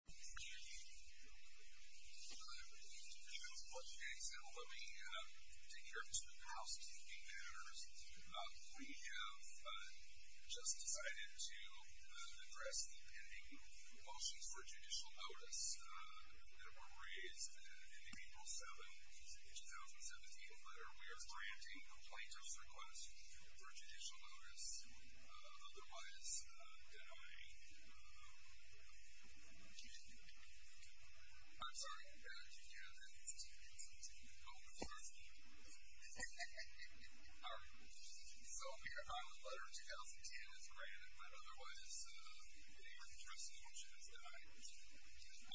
We have just decided to address the pending motions for judicial notice that were raised in the April 7, 2017 letter. We are granting a plaintiff's request for judicial notice, otherwise denying a... I'm sorry, do you have it? It's in your phone. It's in your phone. Sorry. All right. So, we have filed a letter in 2010 that's granted, but otherwise a trustee motion is denied.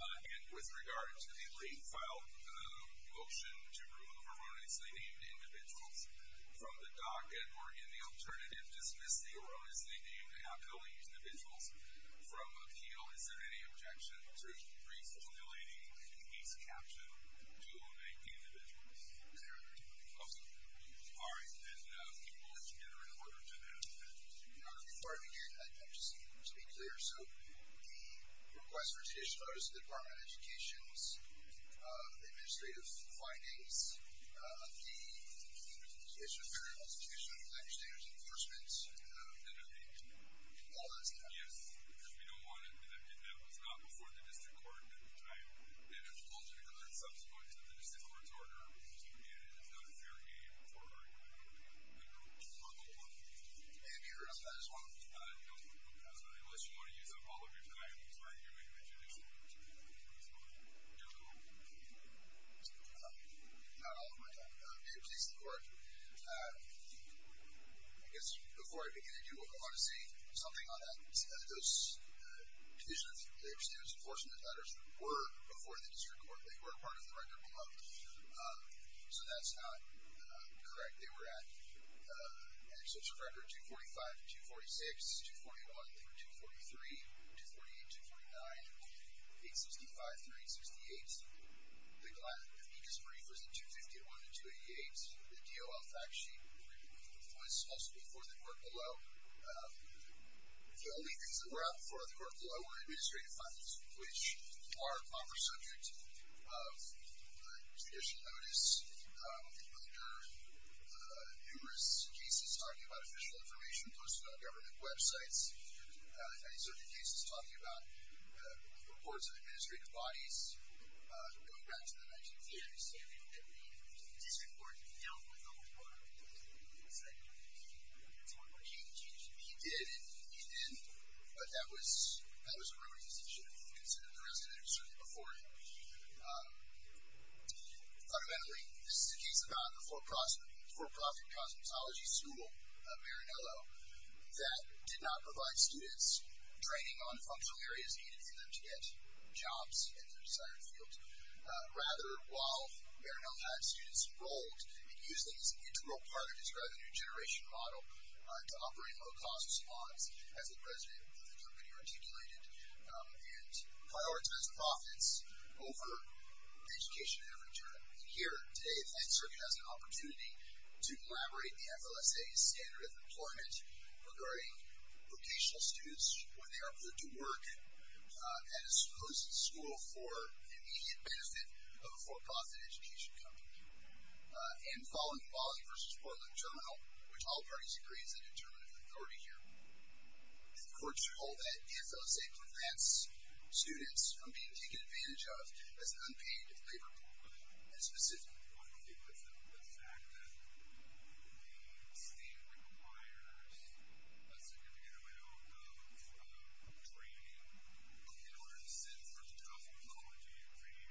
And with regard to the re-filed motion to remove erroneously named individuals from the docket, or in the alternative, dismiss the erroneously named and outgoing individuals from appeal, is there any objection to re-formulating these captioned, dual-named individuals? There are no objections. Okay. All right. And can we work together in order to do that? Before I begin, I'd like just to be clear. So, the request for judicial notice of the Department of Education, the administrative findings, the issue of parent prosecution, language standards enforcement, all that stuff. Yes. Because we don't want it. That was not before the district court. It has logically occurred subsequently to the district court's order. And it's not a fair game for the group. And may I interrupt on that as well? Unless you want to use up all of your time, I'm sorry. You're making an introduction. Go ahead. Not all of my time. May it please the Court. I guess before I begin, I do want to say something on that. Those conditions of language standards enforcement, as it matters, were before the district court. They were a part of the record below. So, that's not correct. They were at, in their social record, 245-246, 241-243, 248-249, 865-3868. The amicus brief was in 251-288. The DOL fact sheet was also before the court below. The only things that were out before the court below were administrative findings, which are a proper subject of judicial notice under numerous cases talking about official information posted on government websites, and in certain cases talking about reports of administrative bodies going back to the 1970s. Yeah, I understand that. But the district court dealt with all of that. It's not going to change. It's not going to change. It should have been considered the residue certainly before it. Fundamentally, this is a case about a for-profit cosmetology school, Maranello, that did not provide students training on the functional areas needed for them to get jobs in their desired fields. Rather, while Maranello had students enrolled, it usually is an integral part of describing a new generation model to operating low-cost salons. As the president of the company articulated and prioritized profits over education and return. And here today, the 9th Circuit has an opportunity to collaborate the FLSA's standard of employment regarding vocational students when they are put to work at a supposed school for immediate benefit of a for-profit education company. And following the Wally v. Portland Journal, which all parties agree is a determinative authority here, the court should hold that the FLSA prevents students from being taken advantage of as an unpaid laborer. And specifically, the fact that the state requires a significant amount of training, in order to sit for the cosmetology degree,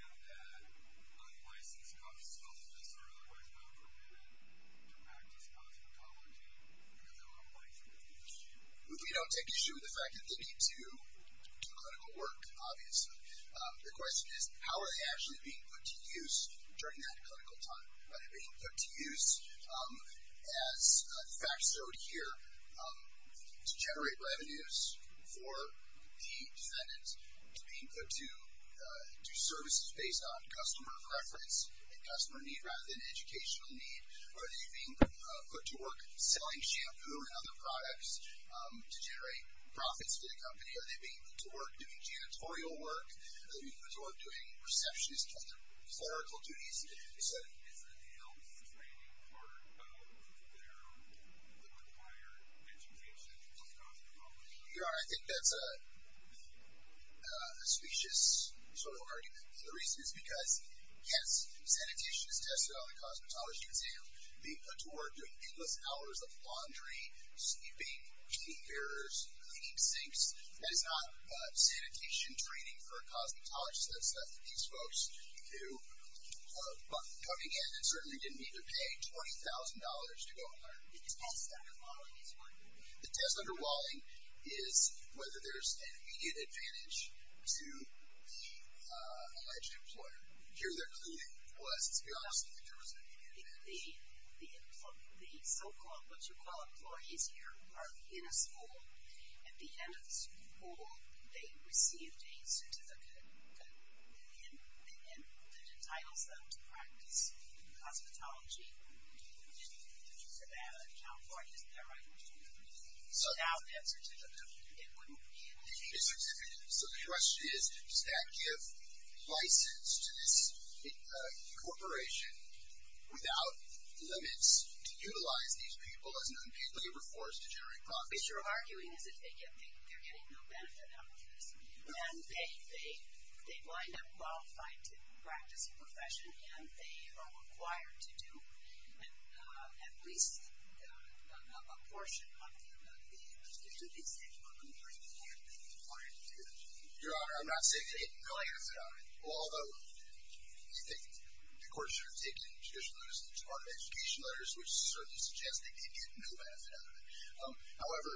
and that unlicensed cosmetologists are otherwise not permitted to practice cosmetology, because they are unlicensed. We don't take issue with the fact that they need to do clinical work, obviously. The question is, how are they actually being put to use during that clinical time? Are they being put to use, as the facts show here, to generate revenues for the defendants? Are they being put to do services based on customer preference and customer need, rather than educational need? Are they being put to work selling shampoo and other products to generate profits for the company? Are they being put to work doing janitorial work? Are they being put to work doing receptionist and clerical duties? Is there a need for training for their required education in cosmetology? There are. I think that's a specious sort of argument. The reason is because, yes, sanitation is tested on the cosmetology exam. Being put to work doing endless hours of laundry, sweeping, cleaning mirrors, cleaning sinks, that is not sanitation training for a cosmetologist. These folks who are coming in and certainly didn't need to pay $20,000 to go home. The test underwalling is what? The test underwalling is whether there's an immediate advantage to the alleged employer. Here, their clue was, to be honest, that there was an immediate advantage. The so-called, what you call, employees here are in a school. At the end of the school, they received a certificate that entitles them to practice cosmetology in the city of Nevada and California. Is that right? Without that certificate, it wouldn't be an employee. A certificate. So the question is, does that give license to this corporation without limits to utilize these people as an unpaid labor force to generate profits? What you're arguing is that they're getting no benefit out of this. And they wind up qualified to practice a profession. And they are required to do at least a portion of the work that they're required to do. Your Honor, I'm not saying they get no benefit out of it. Although, you think, of course, you're taking additional notice of the Department of Education letters, however,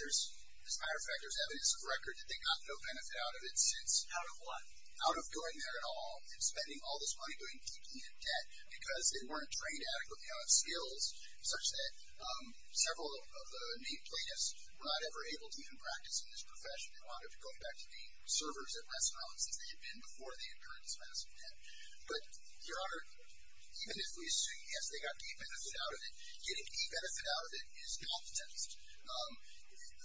there's higher factors, evidence of record that they got no benefit out of it since. Out of what? Out of going there at all and spending all this money doing D.P. and debt because they weren't trained adequately on skills such that several of the main plaintiffs were not ever able to even practice in this profession. They wound up going back to the servers at restaurants since they had been before they incurred this massive debt. But, Your Honor, even if we assume, yes, they got D.P. benefit out of it, getting D.P. benefit out of it is not the test.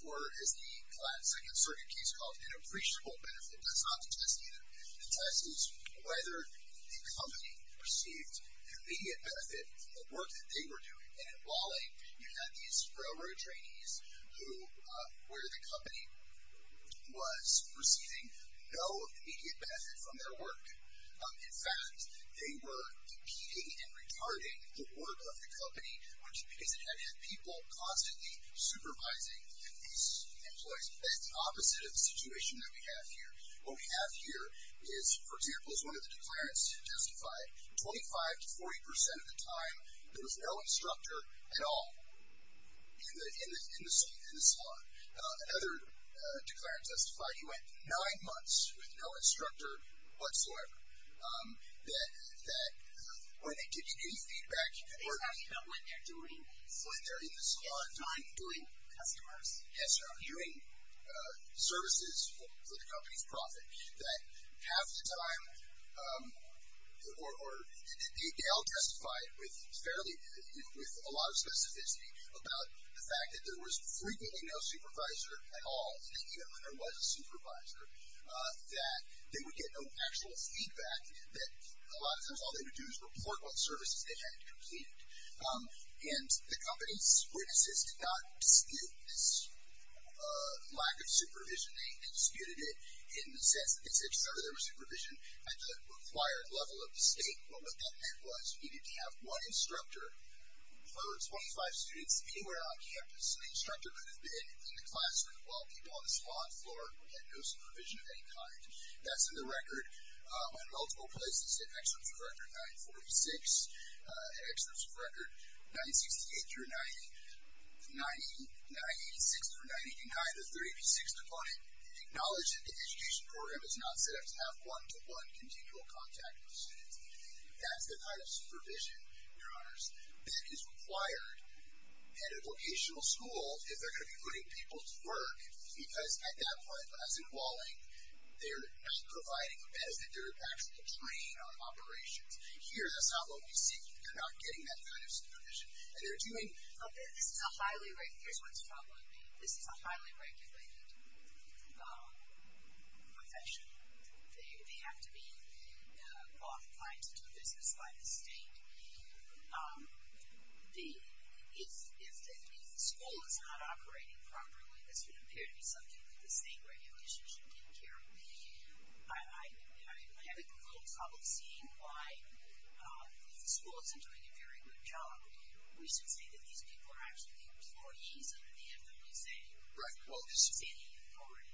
Or, as the Latin Second Circuit case calls it, an appreciable benefit. That's not the test either. The test is whether the company received immediate benefit from the work that they were doing. And in Wally, you had these railroad trainees who, where the company was receiving no immediate benefit from their work. In fact, they were D.P.ing and retarding the work of the company, which is people constantly supervising these employees. That's the opposite of the situation that we have here. What we have here is, for example, as one of the declarants testified, 25 to 40 percent of the time there was no instructor at all in the salon. Another declarant testified he went nine months with no instructor whatsoever. That when they give you any feedback. They're talking about when they're doing these. When they're in the salon. Yes. Time doing customers. Yes. Time doing services for the company's profit. That half the time, or they all testified with fairly, with a lot of specificity, about the fact that there was frequently no supervisor at all, even when there was a supervisor. That they would get no actual feedback. That a lot of times all they would do is report what services they hadn't completed. And the company's witnesses did not dispute this lack of supervision. They disputed it in the sense that they said, if ever there was supervision at the required level of the state, what that meant was you needed to have one instructor. If there were 25 students anywhere on campus, the instructor could have been in the classroom, while people on the salon floor had no supervision of any kind. That's in the record. In multiple places, in Excellence of Record 946, in Excellence of Record 968 through 98, 986 through 99, the 386th opponent, acknowledged that the education program is not set up to have one-to-one continual contact with students. That's the kind of supervision, Your Honors, that is required at a vocational school if they're going to be putting people to work, because at that point, as in Walling, they're not providing a bed, as in they're actually trained on operations. Here, that's not what we see. They're not getting that kind of supervision. And they're doing... Here's what's troubling me. This is a highly regulated profession. They have to be qualified to do business by the state. If the school is not operating properly, this would appear to be something that the state regulation should take care of. I have a little trouble seeing why if the school isn't doing a very good job, we should say that these people are actually employees under the FWC? Right, well, this is...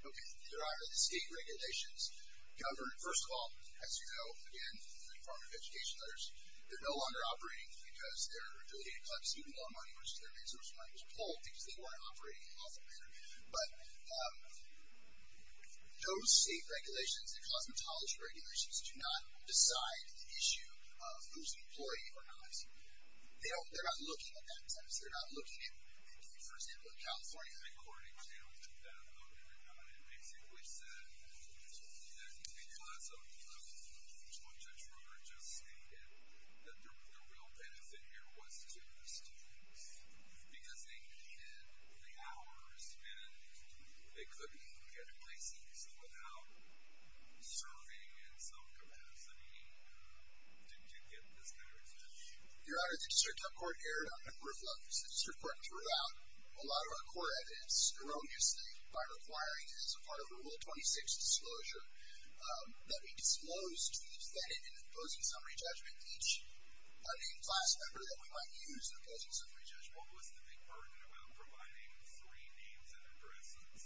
Okay, there are the state regulations governed, first of all, as you know, again, in the Department of Education letters, they're no longer operating because their ability to collect student loan money or student resource money was pulled because they weren't operating in a lawful manner. But those state regulations, the cosmetology regulations, do not decide the issue of who's an employee or not. They're not looking at that, in a sense. They're not looking at, for example, California. According to that letter, it basically said that, you know, that's what Judge Brewer just stated, that the real benefit here was to the students because they needed the hours and they couldn't get a place easy without serving in some capacity to get this kind of experience. Your Honor, the District Court erred on a number of levels. The District Court threw out a lot of our core evidence erroneously by requiring, as a part of Rule 26 disclosure, that we disclose to the defendant in opposing summary judgment each named class member that we might use in opposing summary judgment. What was the big burden about providing three names and addresses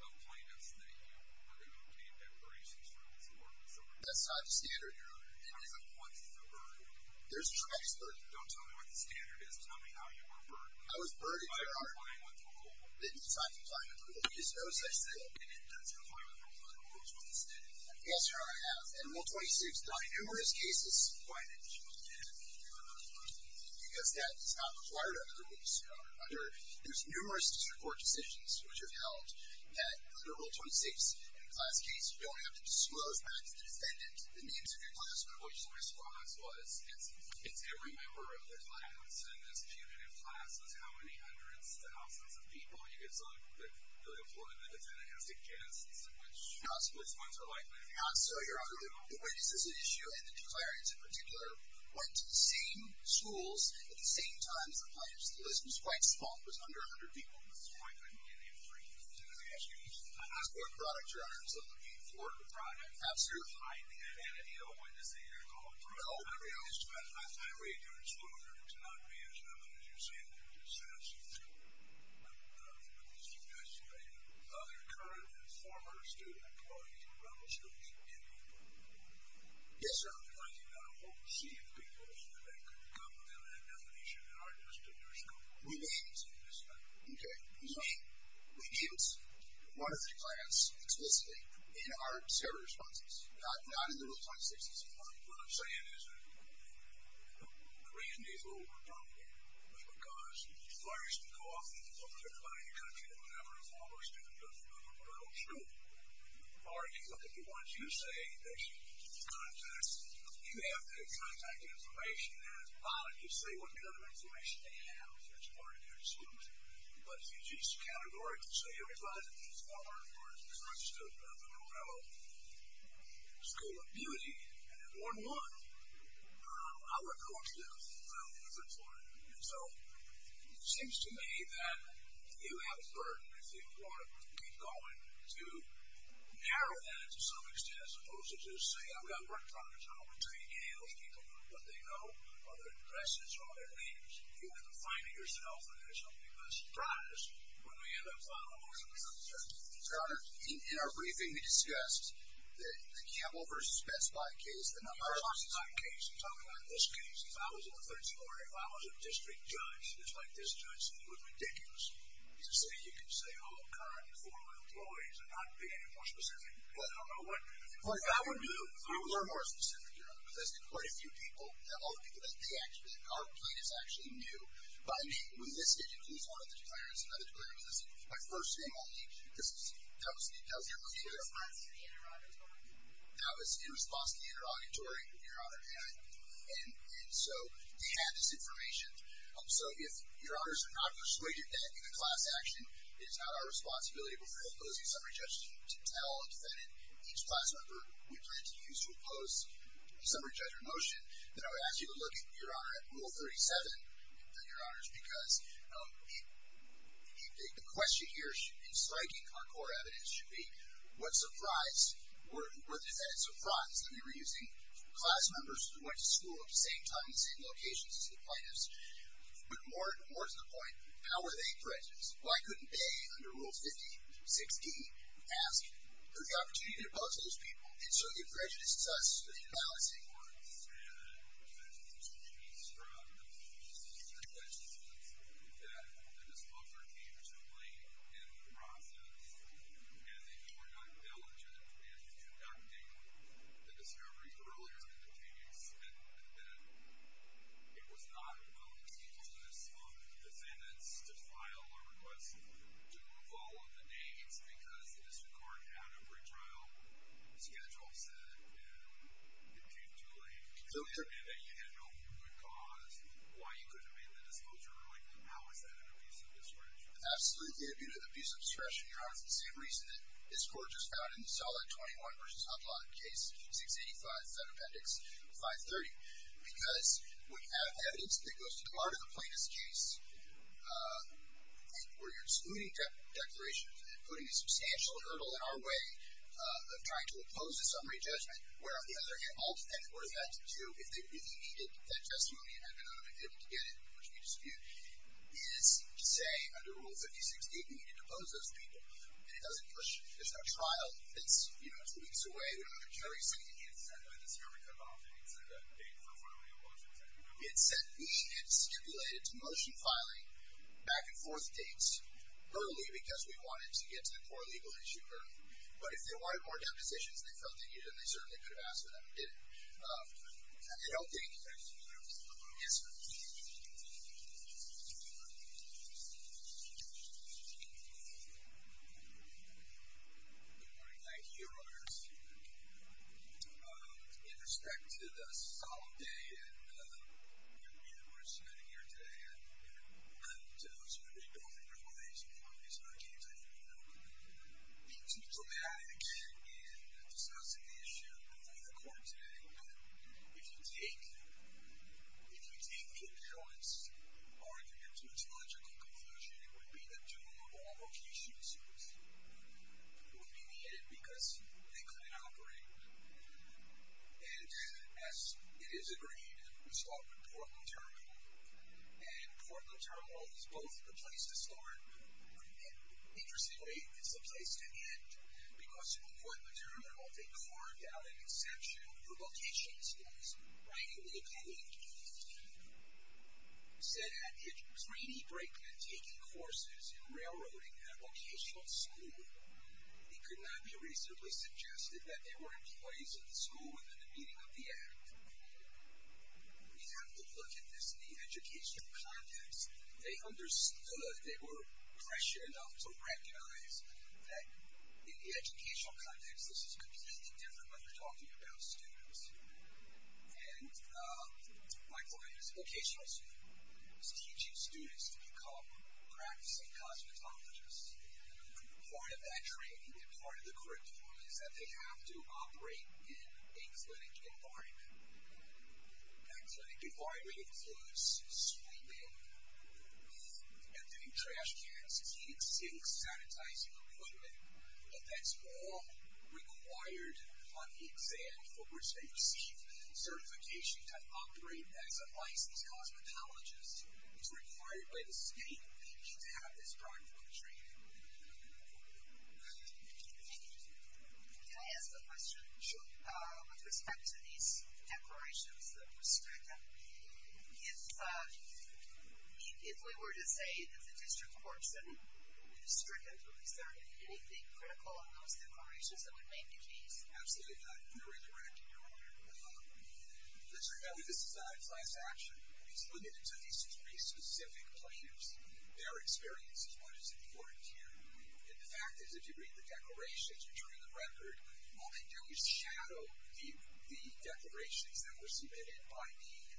of plaintiffs that, you know, are going to obtain declarations from this court? That's not the standard, Your Honor. What is the burden? There's a tremendous burden. Don't tell me what the standard is. Tell me how you were burdened. I was burdened, Your Honor. By complying with the rule. It's not complying with the rule. There's no such thing. And it does comply with the rule in Rule 26. Yes, Your Honor, I have. In Rule 26, there are numerous cases... Why did you do that? Because that is not required under Rule 26. There's numerous District Court decisions which have held that under Rule 26, in a class case, you don't have to disclose that to the defendant. The names of your class members. My response was, it's every member of the class, and this cumulative class is how many hundreds to thousands of people. You can look at the employment that the defendant has against, which ones are like that? Not so, Your Honor. When is this an issue? And the declarants, in particular, went to the same schools at the same time as the plaintiffs. The list was quite small. It was under 100 people at this point. I'm asking you a question. I'm asking you a question. Your Honor, I'm just looking for the product. Absolutely. I'm looking for the identity of what is the year called. I read your disclosure. It's not me. It's not the judge. You're saying that you're just saying that it's you. I'm just investigating. Are there current and former student employees in the Rubble Schools in Newport? Yes, sir. I'm just wondering. I don't see it because they couldn't come with an indefinition in our district or school. We may have seen this time. Okay. We meet one or three clients explicitly in our several responses, not in the real-time statistics. Your Honor, what I'm saying is that the reason these people were brought here was because lawyers can go off and look at anybody in the country that was never a former student of the Rubble School, argue with the ones you say they should contact. You have their contact information, and it's valid. You say what kind of information they have and that's part of your disclosure. But if you just categorically say everybody that's a former or current student of the Rubble School of Beauty, and they're 1-1, our courts don't feel anything for it. And so it seems to me that you have a burden if you want to keep going to narrow that to some extent, as opposed to just say, I've got work problems, and I'm going to tell you any of those people what they know or their addresses or their names. You have to find it yourself, and it's something that's a surprise when we end up on a lawsuit. Your Honor, in our briefing we discussed the Campbell v. Best Buy case. I'm talking about this case. If I was a third story, if I was a district judge just like this judge, it would be ridiculous to say you can say all current and former employees and not pick any more specific. I don't know what that would do. I would learn more specifically, Your Honor, because there's quite a few people, all the people that they actually know. Our plane is actually new. When this case includes one of the declarants, another declarant, my first name only. That was in response to the interrogatory, Your Honor, and so they had this information. So if Your Honors are not persuaded that in a class action it is not our responsibility before imposing summary judgment to tell a defendant each class member we plan to use to impose a summary judgment motion, then I would ask you to look, Your Honor, at Rule 37, Your Honors, because the question here in striking our core evidence should be what surprise were the defendants surprised that they were using class members who went to school at the same time in the same locations as the plaintiffs? But more to the point, how were they threatened? Why couldn't they, under Rule 50, 6D, ask for the opportunity to impose on those people and so it prejudices us for the imbalancing? Your Honor, I would say that there's an opportunity to be struck that the disposer came to blame in the process and that you were not diligent in conducting the discovery earlier in the case and that it was not a willingness of the defendants to file a request to remove all of the names because the district court had a retrial schedule set and it came too late. And that you had no good cause, why you couldn't have made the disclosure earlier. How is that an abuse of discretion? Absolutely, it would be an abuse of discretion, Your Honor, for the same reason that this court just found in the Solid 21 v. Hudlock case, 685, 530, because when you have evidence that goes to the heart of the plaintiff's case where you're excluding declarations and putting a substantial hurdle in our way of trying to impose a summary judgment where, on the other hand, all the defendants would have had to do if they really needed that testimony and had been unable to get it, which we dispute, is to say under Rule 50, 6D, we need to depose those people. And it doesn't push, there's no trial that's, you know, two weeks away and we don't have a jury sitting against us. I know this hearing kind of offended you to that date for filing a motion, is that true? It said we had stipulated motion filing back and forth dates early because we wanted to get to the core legal issue early. But if they wanted more depositions, they felt they needed them, they certainly could have asked for them and did it. And it helped me. Yes, sir. Good morning. Good morning. I hear others. In respect to the solemn day and, you know, the reason we're sitting here today, and to those of you who don't think there's a reason why we're sitting here today, you know, being too dramatic in discussing the issue before the court today, if you take the insurance argument to its logical conclusion, it would be that two of all locations would be needed because they couldn't operate. And as it is agreed, we start with Portland Terminal. And Portland Terminal is both the place to start and, interestingly, it's the place to end because Portland Terminal, they carved out an exception for location space right in the beginning. It said at a grainy break in taking courses in railroading at a locational school, it could not be reasonably suggested that there were employees at the school within the meaning of the act. We have to look at this in the educational context. They understood, they were prescient enough to recognize that in the educational context, this is completely different when you're talking about students. And my client is a locational student. He's teaching students to become practicing cosmetologists. Part of that training and part of the curriculum is that they have to operate in a clinic environment. That clinic environment includes sweeping, emptying trash cans, cleaning sinks, sanitizing equipment, but that's all required on the exam for which they receive certification to operate as a licensed cosmetologist. It's required by the state. We need to have this driving for the training. Thank you. Can I ask a question? Sure. With respect to these declarations that were stacked up, if we were to say that the district court said that the district employees found anything critical in those declarations, that would make the case? Absolutely not. They're incorrect. This is a class action. It's limited to these three specific plaintiffs. Their experience is what is important here. And the fact is, if you read the declarations, you turn in the record, all they do is shadow the declarations that were submitted by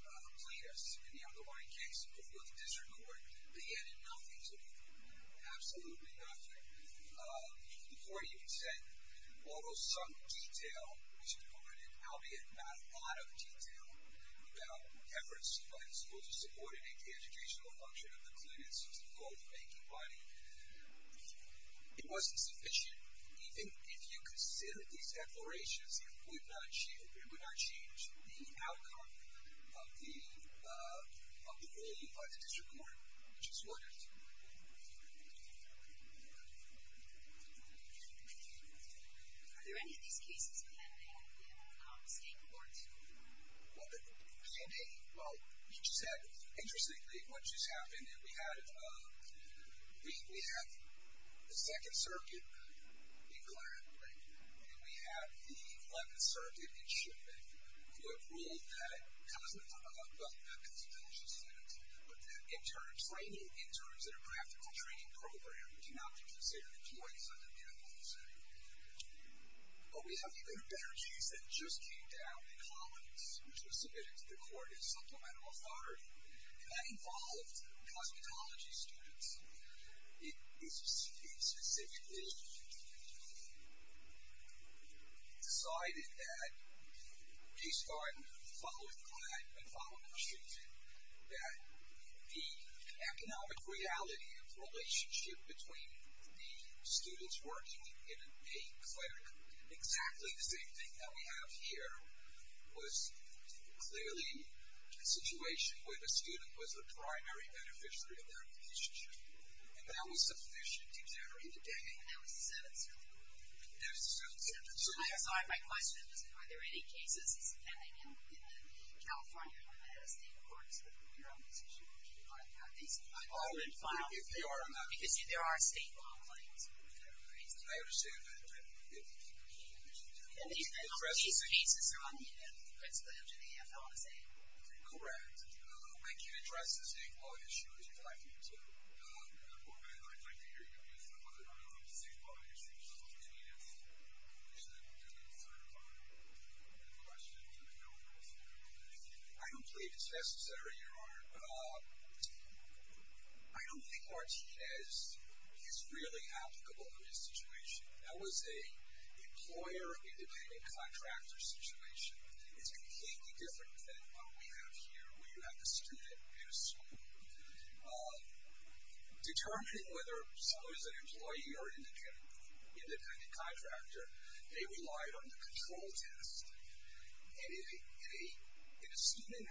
the plaintiffs. In the underlying case, if you look at district court, they added nothing to the report. Absolutely nothing. Before you even said all those subtle detail, which included, albeit not a lot of detail, about efforts by the school to support and make the educational function of the clinics as the goal of making money, it wasn't sufficient. Even if you consider these declarations, it would not change the outcome of the ruling by the district court, which is what it is. Are there any of these cases pending at the state court? What do you mean, pending? Well, you just said, interestingly, what just happened, and we have the Second Circuit in Clarendon, and we have the Eleventh Circuit in Shipman, who have ruled that, well, not constitutional standards, but that internal training interns in a practical training program do not be considered employees of the medical facility. But we have even better case that just came down in Collins, which was submitted to the court as supplemental authority, and that involved cosmetology students. It was specifically decided that, based on following the plan and following the procedure, that the economic reality of the relationship between the students working in a clinic, exactly the same thing that we have here, was clearly a situation where the student was a primary beneficiary of their relationship. And that was sufficient, exactly, today. And that was the Seventh Circuit? That was the Seventh Circuit. I'm sorry, my question was, are there any cases pending in California that are at a state court? Is that where you're on this issue? I would, if you are on that. Because there are state law claims. I understand that. And these cases are on the principal injunctive, I want to say. Correct. I can't address the state law issue as you'd like me to. I don't believe it's necessary, Your Honor. I don't think Martinez is really applicable in this situation. That was an employer-independent contractor situation. It's completely different than what we have here, where you have the student in a school. Determining whether someone is an employee or an independent contractor, they relied on the control test. And in a student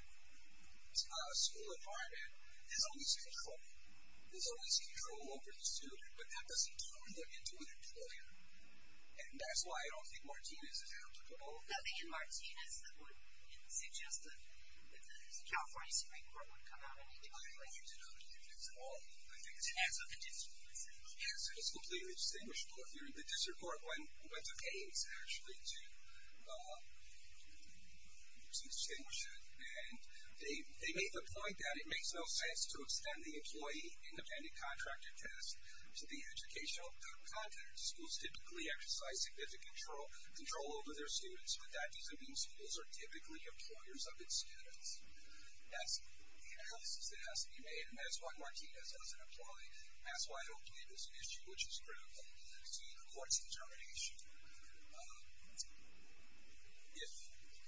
school environment, there's always control. There's always control over the student, but that doesn't turn them into an employer. And that's why I don't think Martinez is applicable. I don't think in Martinez, that would suggest that the California Supreme Court would come out and indicate that. I don't think it's at all. As of the district, is it? Yes, it is completely distinguishable if you're in the district court when it's okay, it's actually to distinguish it. And they made the point that it makes no sense to extend the employee-independent contractor test to the educational content. Schools typically exercise significant control over their students, but that doesn't mean schools are typically employers of its students. That's the analysis that has to be made, and that's why Martinez doesn't apply. That's why I don't think it's an issue which is critical to the court's determination. If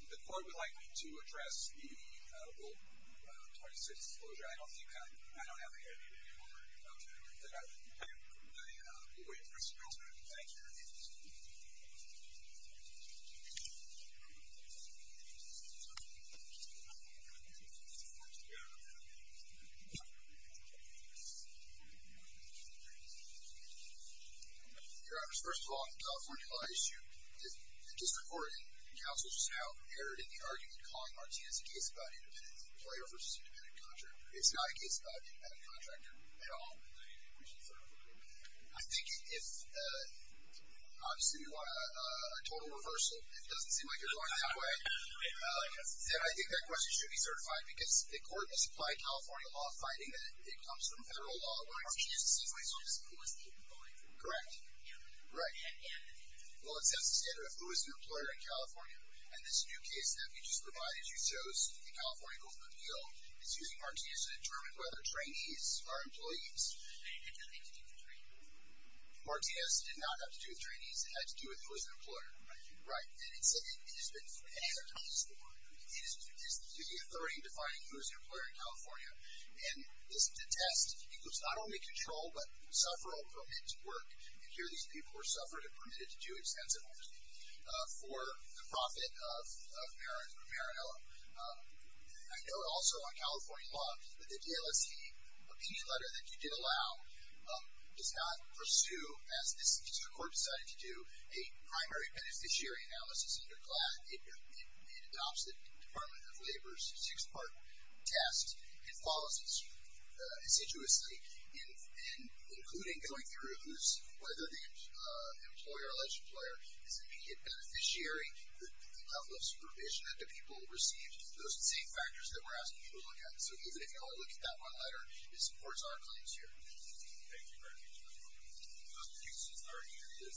the court would like me to address the Rule 26 disclosure, I don't think I don't have anything more to add to that. Thank you. We'll wait for some questions. Thank you. Your Honor, first of all, the California law issue, the district court and counsel just now erred in the argument calling Martinez a case about employee versus independent contractor. It's not a case about independent contractor at all. I think if, obviously, you want a total reversal, if it doesn't seem like you're going that way, then I think that question should be certified, because the court has applied California law, finding that it comes from federal law, where it's used to see who is the employee. Right. Well, it sets the standard of who is an employer in California, and this new case that we just provided, as you chose, the California Guild of Appeal, it's using Martinez to determine whether trainees are employees. Martinez did not have to do with trainees. It had to do with who is an employer. Right. And it has been advertised for. It is the authority in defining who is an employer in California, and the test includes not only control, but sufferal permit to work, and here these people were suffered and permitted to do extensive work, for the profit of Maranella. I note also on California law, that the DLSC opinion letter that you did allow, does not pursue, as the court decided to do, a primary beneficiary analysis of your class. It adopts the Department of Labor's six-part test, and follows it assiduously, including going through who's, whether the employer, alleged employer, is an immediate beneficiary, the level of supervision that the people received, those same factors that we're asking people to look at. So even if you only look at that one letter, it supports our claims here. Thank you very much. Those cases are here to submit.